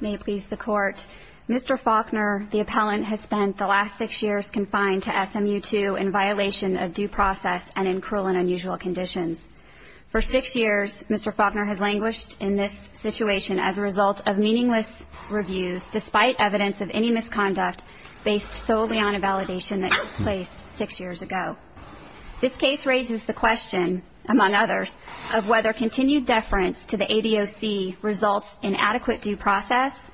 May it please the Court, Mr. Faulkner, the appellant, has spent the last six years confined to SMU 2 in violation of due process and in cruel and unusual conditions. For six years, Mr. Faulkner has languished in this situation as a result of meaningless reviews despite evidence of any misconduct based solely on a validation that took place six years ago. This case raises the question, among others, of whether continued deference to the ADOC results in adequate due process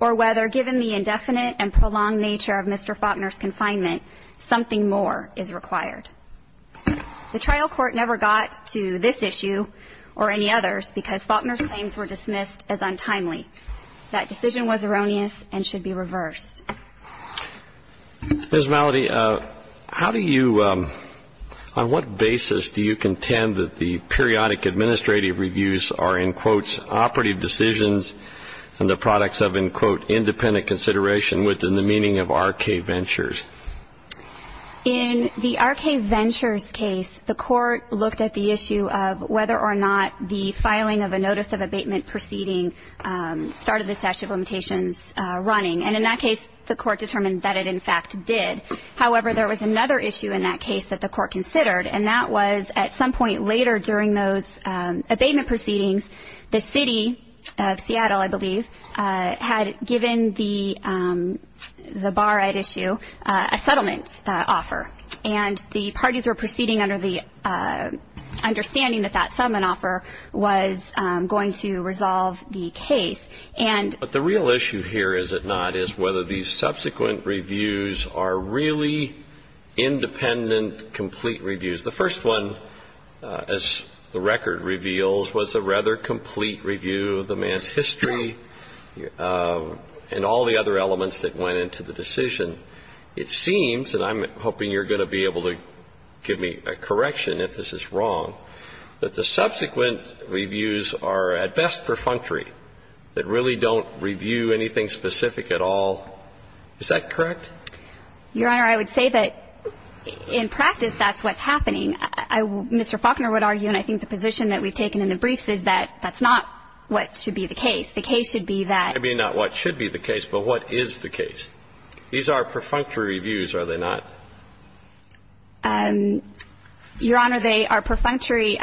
or whether, given the indefinite and prolonged nature of Mr. Faulkner's confinement, something more is required. The trial court never got to this issue or any others because Faulkner's claims were dismissed as untimely. That decision was erroneous and should be reversed. Ms. Mallody, how do you, on what basis do you contend that the periodic administrative reviews are, in quotes, operative decisions and the products of, in quote, independent consideration within the meaning of R.K. Ventures? In the R.K. Ventures case, the court looked at the issue of whether or not the filing of a notice of abatement proceeding started the statute of limitations running. And in that case, the court determined that it, in fact, did. However, there was another issue in that case that the court considered, and that was, at some point later during those abatement proceedings, the city of Seattle, I believe, had given the bar at issue a settlement offer. And the parties were proceeding under the understanding that that settlement offer was going to resolve the case. But the real issue here, is it not, is whether these subsequent reviews are really independent, complete reviews. The first one, as the record reveals, was a rather complete review of the man's history and all the other elements that went into the decision. It seems, and I'm hoping you're going to be able to give me a correction if this is wrong, that the subsequent reviews are at best perfunctory. That really don't review anything specific at all. Is that correct? Your Honor, I would say that, in practice, that's what's happening. Mr. Faulkner would argue, and I think the position that we've taken in the briefs is that that's not what should be the case. The case should be that. Maybe not what should be the case, but what is the case? These are perfunctory reviews, are they not? Your Honor, they are perfunctory.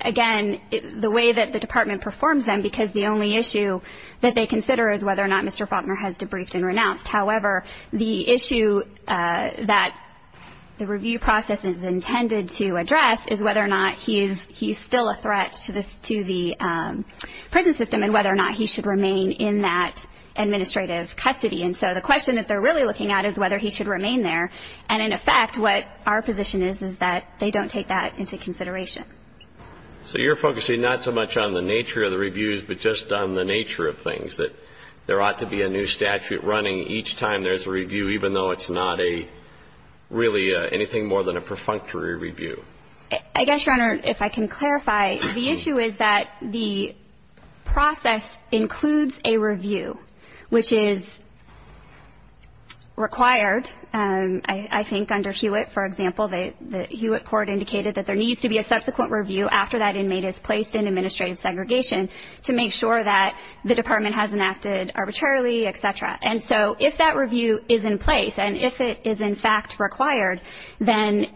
Again, the way that the Department performs them, because the only issue that they consider is whether or not Mr. Faulkner has debriefed and renounced. However, the issue that the review process is intended to address is whether or not he's still a threat to the prison system and whether or not he should remain in that administrative custody. And so the question that they're really looking at is whether he should remain there. And, in effect, what our position is is that they don't take that into consideration. So you're focusing not so much on the nature of the reviews but just on the nature of things, that there ought to be a new statute running each time there's a review, even though it's not really anything more than a perfunctory review? I guess, Your Honor, if I can clarify, the issue is that the process includes a review, which is required, I think, under Hewitt, for example. The Hewitt court indicated that there needs to be a subsequent review after that inmate is placed in administrative segregation to make sure that the Department hasn't acted arbitrarily, et cetera. And so if that review is in place and if it is, in fact, required, then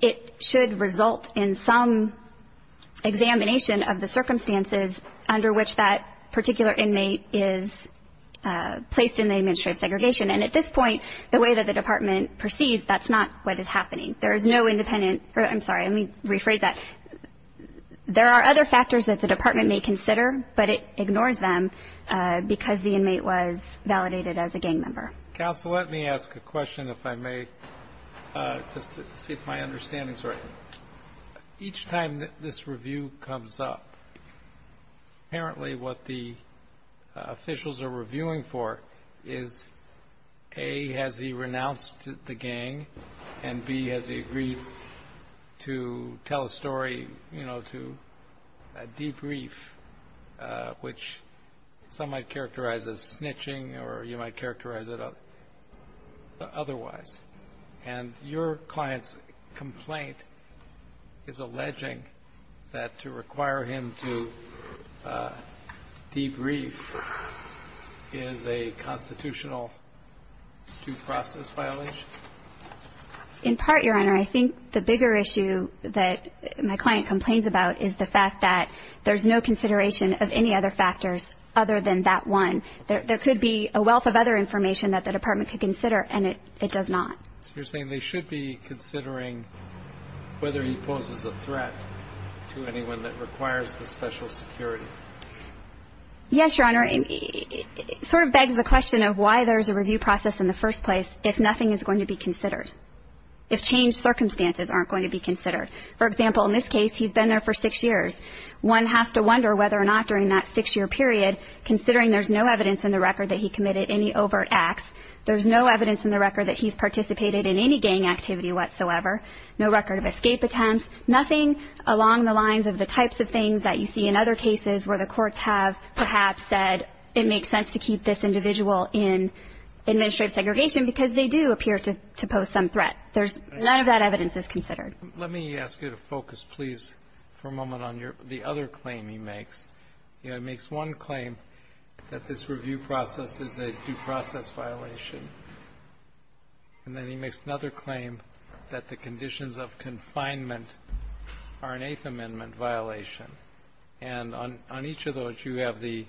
it should result in some examination of the circumstances under which that particular inmate is placed in the administrative segregation. And at this point, the way that the Department perceives, that's not what is happening. There is no independent or, I'm sorry, let me rephrase that. There are other factors that the Department may consider, but it ignores them because the inmate was validated as a gang member. Counsel, let me ask a question, if I may, just to see if my understanding is right. Each time this review comes up, apparently what the officials are reviewing for is, A, has he renounced the gang, and B, has he agreed to tell a story, you know, to debrief, which some might characterize as snitching or you might characterize it otherwise. And your client's complaint is alleging that to require him to debrief is a constitutional due process violation? In part, Your Honor, I think the bigger issue that my client complains about is the fact that there's no consideration of any other factors other than that one. There could be a wealth of other information that the Department could consider, and it does not. So you're saying they should be considering whether he poses a threat to anyone that requires the special security? Yes, Your Honor. It sort of begs the question of why there's a review process in the first place if nothing is going to be considered, if changed circumstances aren't going to be considered. For example, in this case, he's been there for six years. One has to wonder whether or not during that six-year period, considering there's no evidence in the record that he committed any overt acts, there's no evidence in the record that he's participated in any gang activity whatsoever, no record of escape attempts, nothing along the lines of the types of things that you see in other cases where the courts have perhaps said it makes sense to keep this individual in administrative segregation because they do appear to pose some threat. None of that evidence is considered. Let me ask you to focus, please, for a moment on the other claim he makes. He makes one claim that this review process is a due process violation, and then he makes another claim that the conditions of confinement are an Eighth Amendment violation, and on each of those, you have the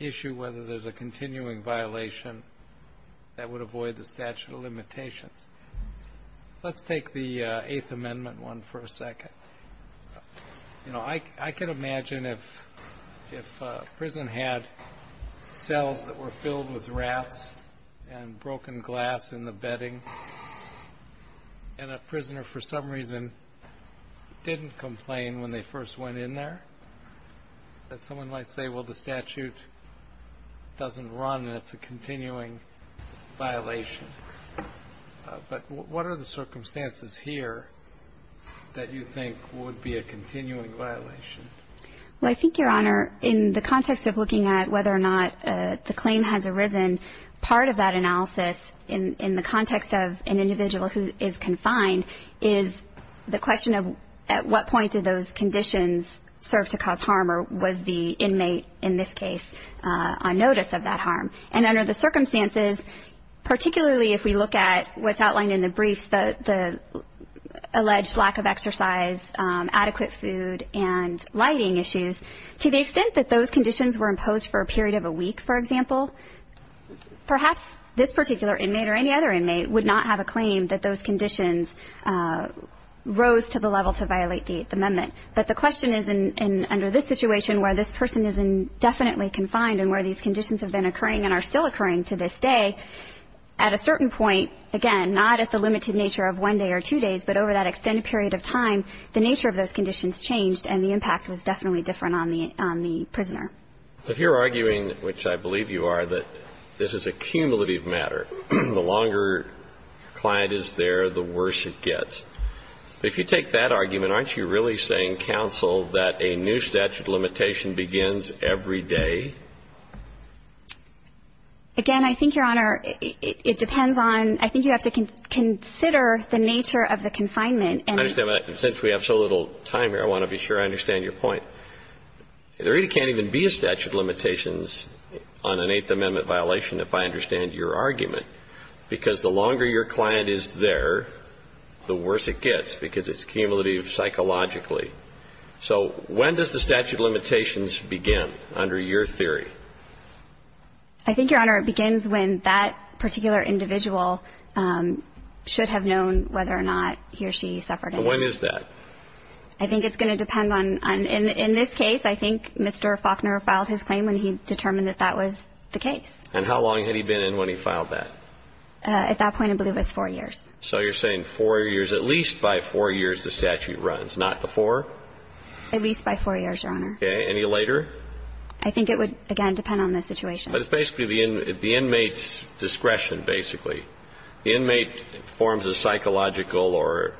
issue whether there's a continuing violation that would avoid the statute of limitations. Let's take the Eighth Amendment one for a second. You know, I can imagine if a prison had cells that were filled with rats and broken glass in the bedding, and a prisoner for some reason didn't complain when they first went in there, that someone might say, well, the statute doesn't run and it's a continuing violation. But what are the circumstances here that you think would be a continuing violation? Well, I think, Your Honor, in the context of looking at whether or not the claim has arisen, part of that analysis in the context of an individual who is confined is the question of at what point did those conditions serve to cause harm, or was the inmate in this case on notice of that harm? And under the circumstances, particularly if we look at what's outlined in the briefs, the alleged lack of exercise, adequate food, and lighting issues, to the extent that those conditions were imposed for a period of a week, for example, perhaps this particular inmate or any other inmate would not have a claim that those conditions rose to the level to violate the Eighth Amendment. But the question is under this situation where this person is indefinitely confined and where these conditions have been occurring and are still occurring to this day, at a certain point, again, not at the limited nature of one day or two days, but over that extended period of time, the nature of those conditions changed and the impact was definitely different on the prisoner. But if you're arguing, which I believe you are, that this is a cumulative matter, the longer a client is there, the worse it gets, if you take that argument, aren't you really saying, counsel, that a new statute of limitation begins every day? Again, I think, Your Honor, it depends on – I think you have to consider the nature of the confinement and the – I understand that. And since we have so little time here, I want to be sure I understand your point. There really can't even be a statute of limitations on an Eighth Amendment violation if I understand your argument, because the longer your client is there, the worse it gets, because it's cumulative psychologically. So when does the statute of limitations begin, under your theory? I think, Your Honor, it begins when that particular individual should have known whether or not he or she suffered any – And when is that? I think it's going to depend on – in this case, I think Mr. Faulkner filed his claim when he determined that that was the case. And how long had he been in when he filed that? At that point, I believe it was four years. So you're saying four years – at least by four years the statute runs, not before? At least by four years, Your Honor. Okay. Any later? I think it would, again, depend on the situation. But it's basically the inmate's discretion, basically. The inmate forms a psychological or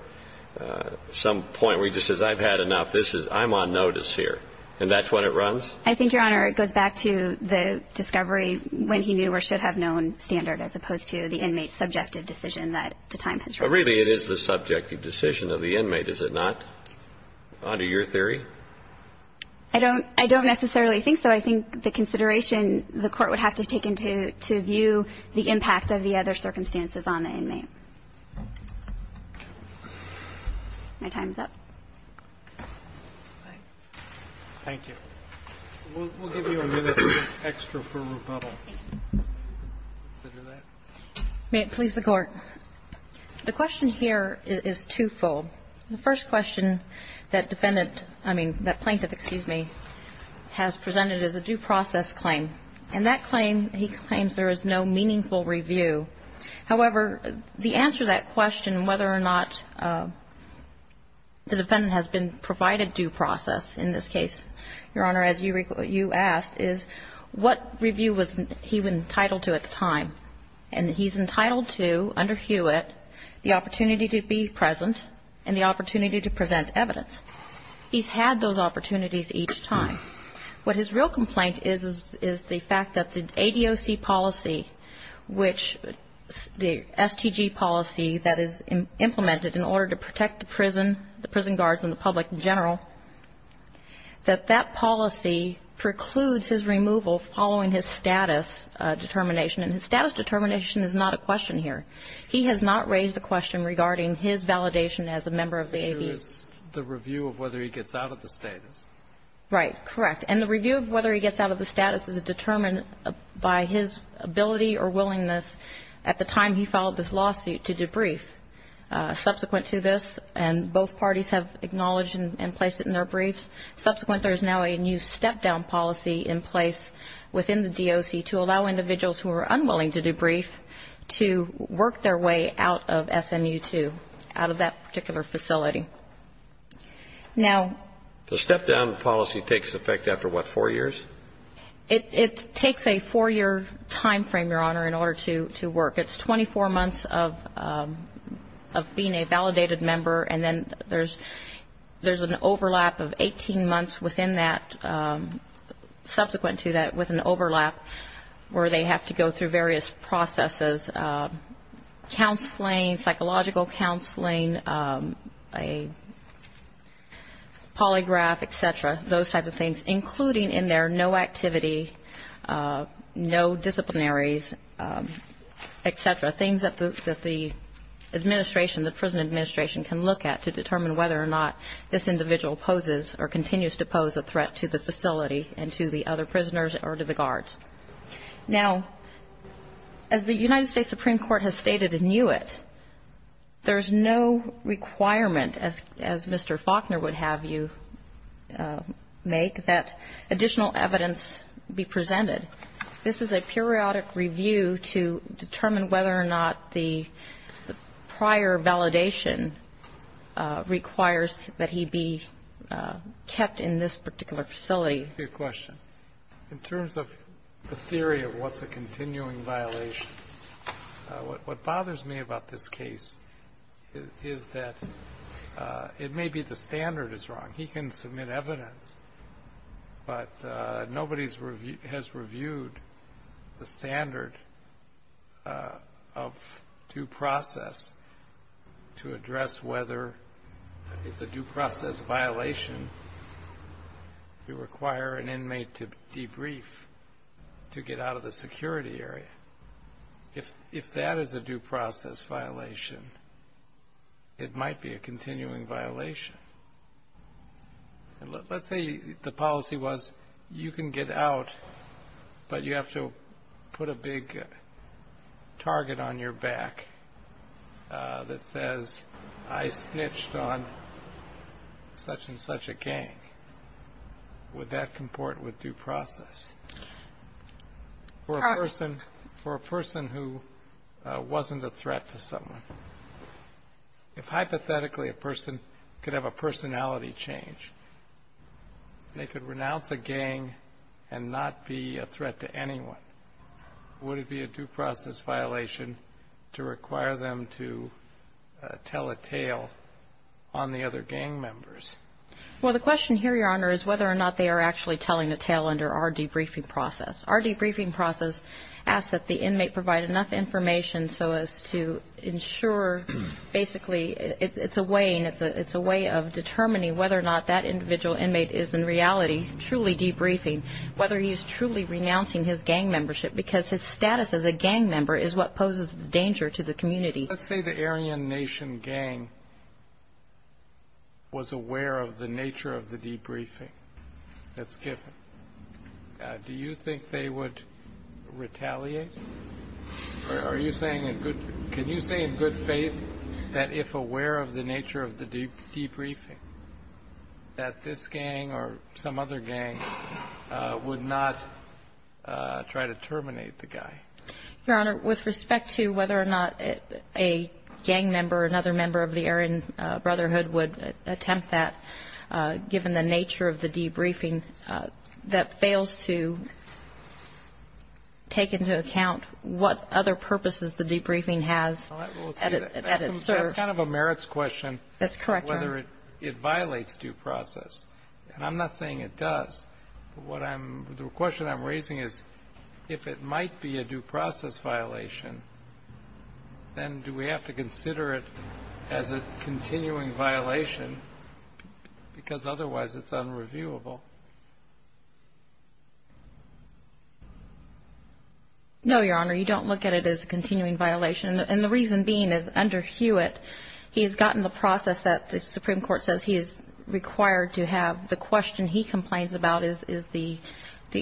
some point where he just says, I've had enough. This is – I'm on notice here. And that's when it runs? I think, Your Honor, it goes back to the discovery when he knew or should have known standard as opposed to the inmate's subjective decision that the time has run. But really, it is the subjective decision of the inmate, is it not, under your theory? I don't – I don't necessarily think so. I think the consideration the Court would have to take into view the impact of the other circumstances on the inmate. My time is up. Thank you. We'll give you a minute extra for rebuttal. May it please the Court. The question here is twofold. The first question that defendant – I mean, that plaintiff, excuse me, has presented as a due process claim. And that claim, he claims there is no meaningful review. However, the answer to that question, whether or not the defendant has been provided a due process in this case, Your Honor, as you asked, is what review was he entitled to at the time. And he's entitled to, under Hewitt, the opportunity to be present and the opportunity to present evidence. He's had those opportunities each time. What his real complaint is, is the fact that the ADOC policy, which the STG policy that is implemented in order to protect the prison, the prison guards and the public general, that that policy precludes his removal following his status determination. And his status determination is not a question here. He has not raised a question regarding his validation as a member of the AB. The issue is the review of whether he gets out of the status. Right. Correct. And the review of whether he gets out of the status is determined by his ability or willingness at the time he filed this lawsuit to debrief. Subsequent to this, and both parties have acknowledged and placed it in their briefs, subsequent, there is now a new step-down policy in place within the DOC to allow individuals who are unwilling to debrief to work their way out of SMU II, out of that particular facility. Now the step-down policy takes effect after, what, four years? It takes a four-year time frame, Your Honor, in order to work. It's 24 months of being a validated member, and then there's an overlap of 18 months within that, subsequent to that, with an overlap where they have to go through various processes, counseling, psychological counseling, a polygraph, et cetera, those types of things, including in there no activity, no disciplinaries, et cetera, things that the administration, the prison administration, can look at to determine whether or not this individual poses or continues to pose a threat to the facility and to the other prisoners or to the guards. Now, as the United States Supreme Court has stated in UIT, there's no requirement, as Mr. Faulkner would have you make, that additional evidence be presented. This is a periodic review to determine whether or not the prior validation requires that he be kept in this particular facility. Good question. In terms of the theory of what's a continuing violation, what bothers me about this case is that it may be the standard is wrong. He can submit evidence, but nobody has reviewed the standard of due process to address whether it's a due process violation. You require an inmate to debrief to get out of the security area. If that is a due process violation, it might be a continuing violation. Let's say the policy was you can get out, but you have to put a big target on your back that says, I snitched on such and such a gang. Would that comport with due process? For a person who wasn't a threat to someone, if hypothetically a person could have a personality change, they could renounce a gang and not be a threat to anyone. Would it be a due process violation to require them to tell a tale on the other gang members? Well, the question here, Your Honor, is whether or not they are actually telling a tale under our debriefing process. Our debriefing process asks that the inmate provide enough information so as to ensure basically it's a way of determining whether or not that individual inmate is in reality truly debriefing, whether he's truly renouncing his gang membership, because his status as a gang member is what poses danger to the community. Let's say the Aryan Nation gang was aware of the nature of the debriefing that's given. Do you think they would retaliate? Are you saying in good can you say in good faith that if aware of the nature of the debriefing that this gang or some other gang would not try to terminate the guy? Your Honor, with respect to whether or not a gang member or another member of the Aryan Brotherhood would attempt that, given the nature of the debriefing, that fails to take into account what other purposes the debriefing has at its serve. That's kind of a merits question. That's correct, Your Honor. Whether it violates due process. And I'm not saying it does. The question I'm raising is, if it might be a due process violation, then do we have to consider it as a continuing violation? Because otherwise it's unreviewable. No, Your Honor. You don't look at it as a continuing violation. And the reason being is under Hewitt, he has gotten the process that the Supreme Court says he is required to have. The question he complains about is the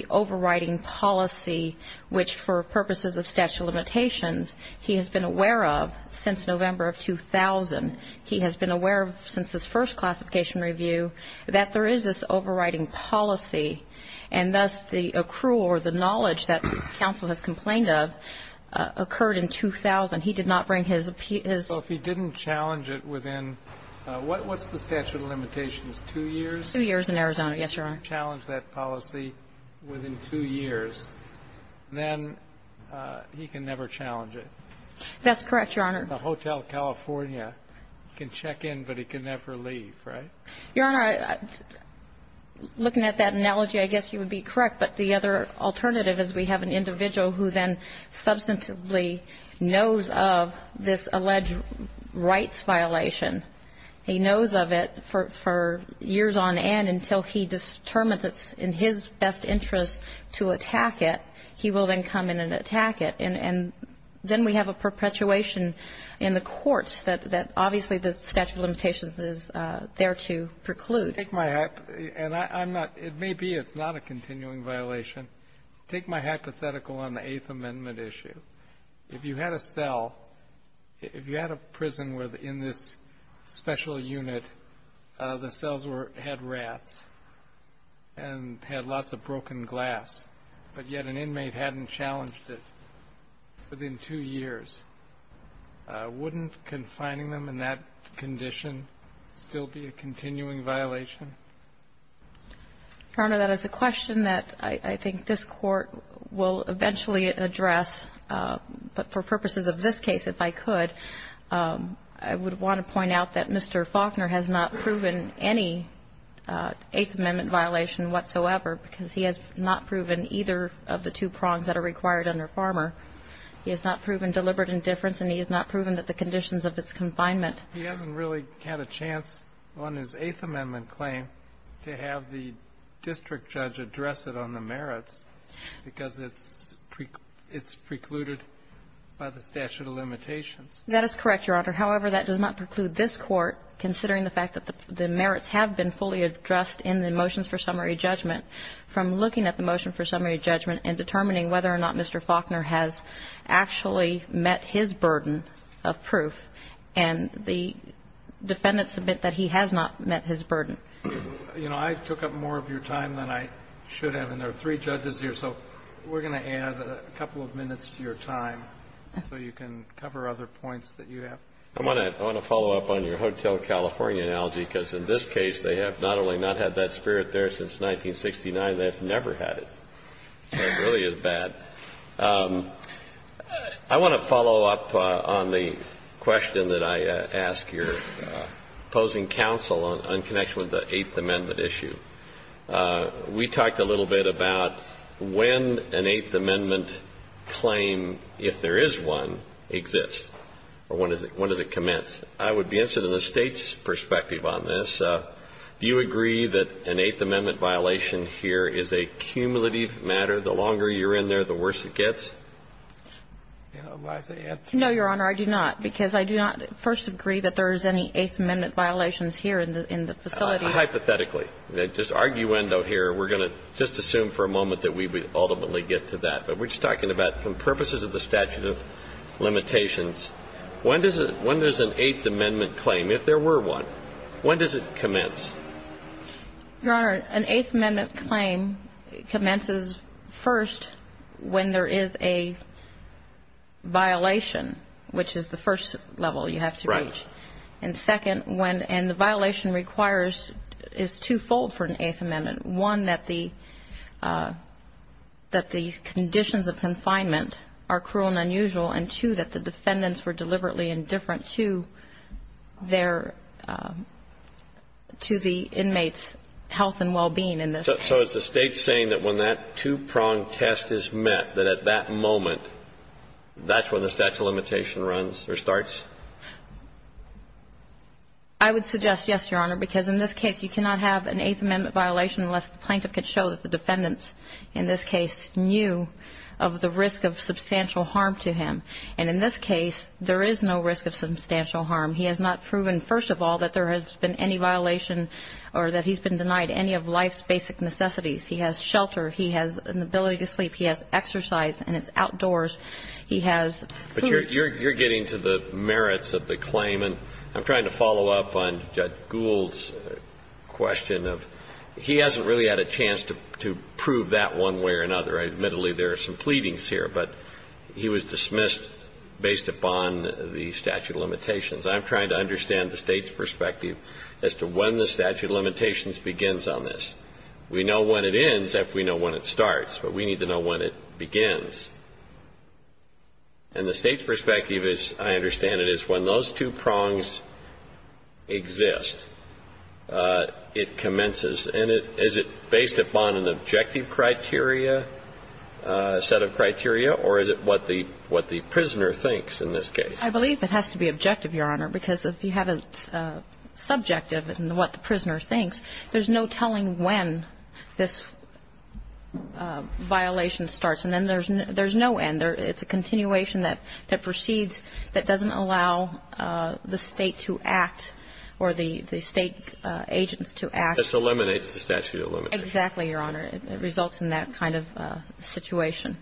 overriding policy, which for purposes of statute of limitations, he has been aware of since November of 2000. He has been aware since his first classification review that there is this overriding policy, and thus the accrual or the knowledge that counsel has complained of occurred in 2000. He did not bring his appeal. So if he didn't challenge it within, what's the statute of limitations, two years? Two years in Arizona, yes, Your Honor. If he didn't challenge that policy within two years, then he can never challenge it. That's correct, Your Honor. A Hotel California can check in, but he can never leave, right? Your Honor, looking at that analogy, I guess you would be correct. But the other alternative is we have an individual who then substantively knows of this alleged rights violation. He knows of it for years on end until he determines it's in his best interest to attack it. He will then come in and attack it. And then we have a perpetuation in the courts that obviously the statute of limitations is there to preclude. Take my hypothetical, and I'm not – it may be it's not a continuing violation. Take my hypothetical on the Eighth Amendment issue. If you had a cell – if you had a prison where in this special unit the cells had rats and had lots of broken glass, but yet an inmate hadn't challenged it within two years, wouldn't confining them in that condition still be a continuing violation? Your Honor, that is a question that I think this Court will eventually address. But for purposes of this case, if I could, I would want to point out that Mr. Faulkner has not proven any Eighth Amendment violation whatsoever, because he has not proven either of the two prongs that are required under Farmer. He has not proven deliberate indifference, and he has not proven that the conditions of its confinement. He hasn't really had a chance on his Eighth Amendment claim to have the district judge address it on the merits, because it's precluded by the statute of limitations. That is correct, Your Honor. However, that does not preclude this Court, considering the fact that the merits have been fully addressed in the motions for summary judgment, from looking at the motion for summary judgment and determining whether or not Mr. Faulkner has actually met his burden of proof. And the defendants admit that he has not met his burden. You know, I took up more of your time than I should have, and there are three judges here, so we're going to add a couple of minutes to your time so you can cover other points that you have. I want to follow up on your Hotel California analogy, because in this case, they have not only not had that spirit there since 1969, they have never had it. It really is bad. I want to follow up on the question that I asked your opposing counsel on connection with the Eighth Amendment issue. We talked a little bit about when an Eighth Amendment claim, if there is one, exists, or when does it commence. I would be interested in the State's perspective on this. Do you agree that an Eighth Amendment violation here is a cumulative matter? The longer you're in there, the worse it gets? No, Your Honor, I do not, because I do not first agree that there is any Eighth Amendment violations here in the facility. Hypothetically. Just arguendo here. We're going to just assume for a moment that we would ultimately get to that. But we're just talking about, for purposes of the statute of limitations, when does an Eighth Amendment claim, if there were one, when does it commence? Your Honor, an Eighth Amendment claim commences first when there is a violation, which is the first level you have to reach. Right. And second, when the violation requires, is twofold for an Eighth Amendment. One, that the conditions of confinement are cruel and unusual, and two, that the defendants were deliberately indifferent to their, to the inmates' health and well-being in this case. So is the State saying that when that two-prong test is met, that at that moment, that's when the statute of limitation runs or starts? I would suggest yes, Your Honor, because in this case, you cannot have an Eighth Amendment violation unless the plaintiff can show that the defendants in this case knew of the risk of substantial harm to him. And in this case, there is no risk of substantial harm. He has not proven, first of all, that there has been any violation or that he's been denied any of life's basic necessities. He has shelter. He has an ability to sleep. He has exercise, and it's outdoors. He has food. But you're getting to the merits of the claim, and I'm trying to follow up on Judge Gould's question of he hasn't really had a chance to prove that one way or another. Admittedly, there are some pleadings here, but he was dismissed based upon the statute of limitations. I'm trying to understand the State's perspective as to when the statute of limitations begins on this. We know when it ends if we know when it starts, but we need to know when it begins. And the State's perspective, as I understand it, is when those two prongs exist, it commences. And is it based upon an objective criteria, set of criteria, or is it what the prisoner thinks in this case? I believe it has to be objective, Your Honor, because if you have a subjective in what the prisoner thinks, there's no telling when this violation starts. And then there's no end. It's a continuation that proceeds that doesn't allow the State to act or the State agents to act. This eliminates the statute of limitations. Exactly, Your Honor. It results in that kind of situation.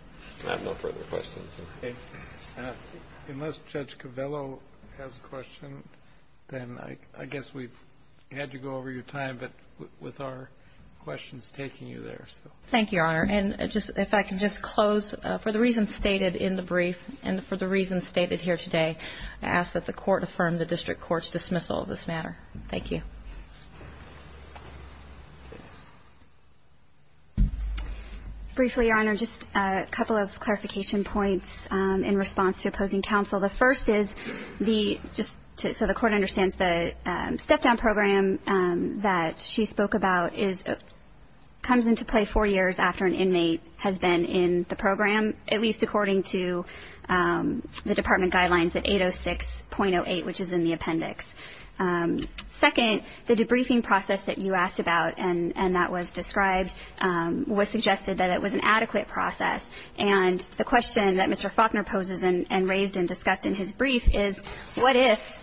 I have no further questions. Unless Judge Covello has a question, then I guess we've had to go over your time, but with our questions taking you there. Thank you, Your Honor. And if I can just close, for the reasons stated in the brief and for the reasons stated here today, I ask that the Court affirm the district court's dismissal of this matter. Thank you. Briefly, Your Honor, just a couple of clarification points in response to opposing counsel. The first is the just so the Court understands the step-down program that she spoke about comes into play four years after an inmate has been in the program, at least according to the department guidelines at 806.08, which is in the appendix. Second, the debriefing process that you asked about and that was described was suggested that it was an adequate process. And the question that Mr. Faulkner poses and raised and discussed in his brief is what if,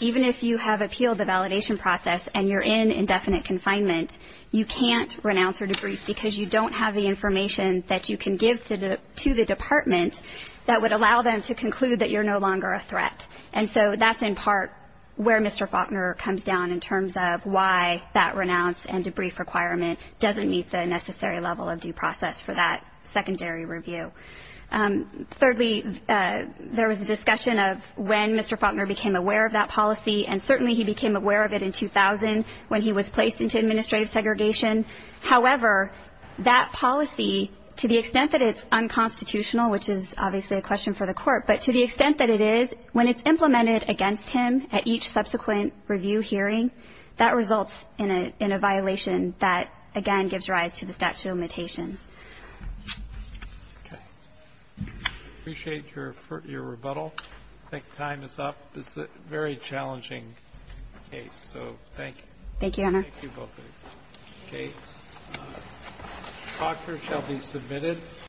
even if you have appealed the validation process and you're in indefinite confinement, you can't renounce or debrief because you don't have the information that you can give to the department that would allow them to conclude that you're no longer a threat. And so that's, in part, where Mr. Faulkner comes down in terms of why that renounce and debrief requirement doesn't meet the necessary level of due process for that secondary review. Thirdly, there was a discussion of when Mr. Faulkner became aware of that policy, and certainly he became aware of it in 2000 when he was placed into administrative segregation. However, that policy, to the extent that it's unconstitutional, which is obviously a question for the Court, but to the extent that it is, when it's implemented against him at each subsequent review hearing, that results in a violation that, again, gives rise to the statute of limitations. Okay. I appreciate your rebuttal. I think time is up. This is a very challenging case, so thank you. Thank you, Your Honor. Thank you both. Okay. Faulkner shall be submitted.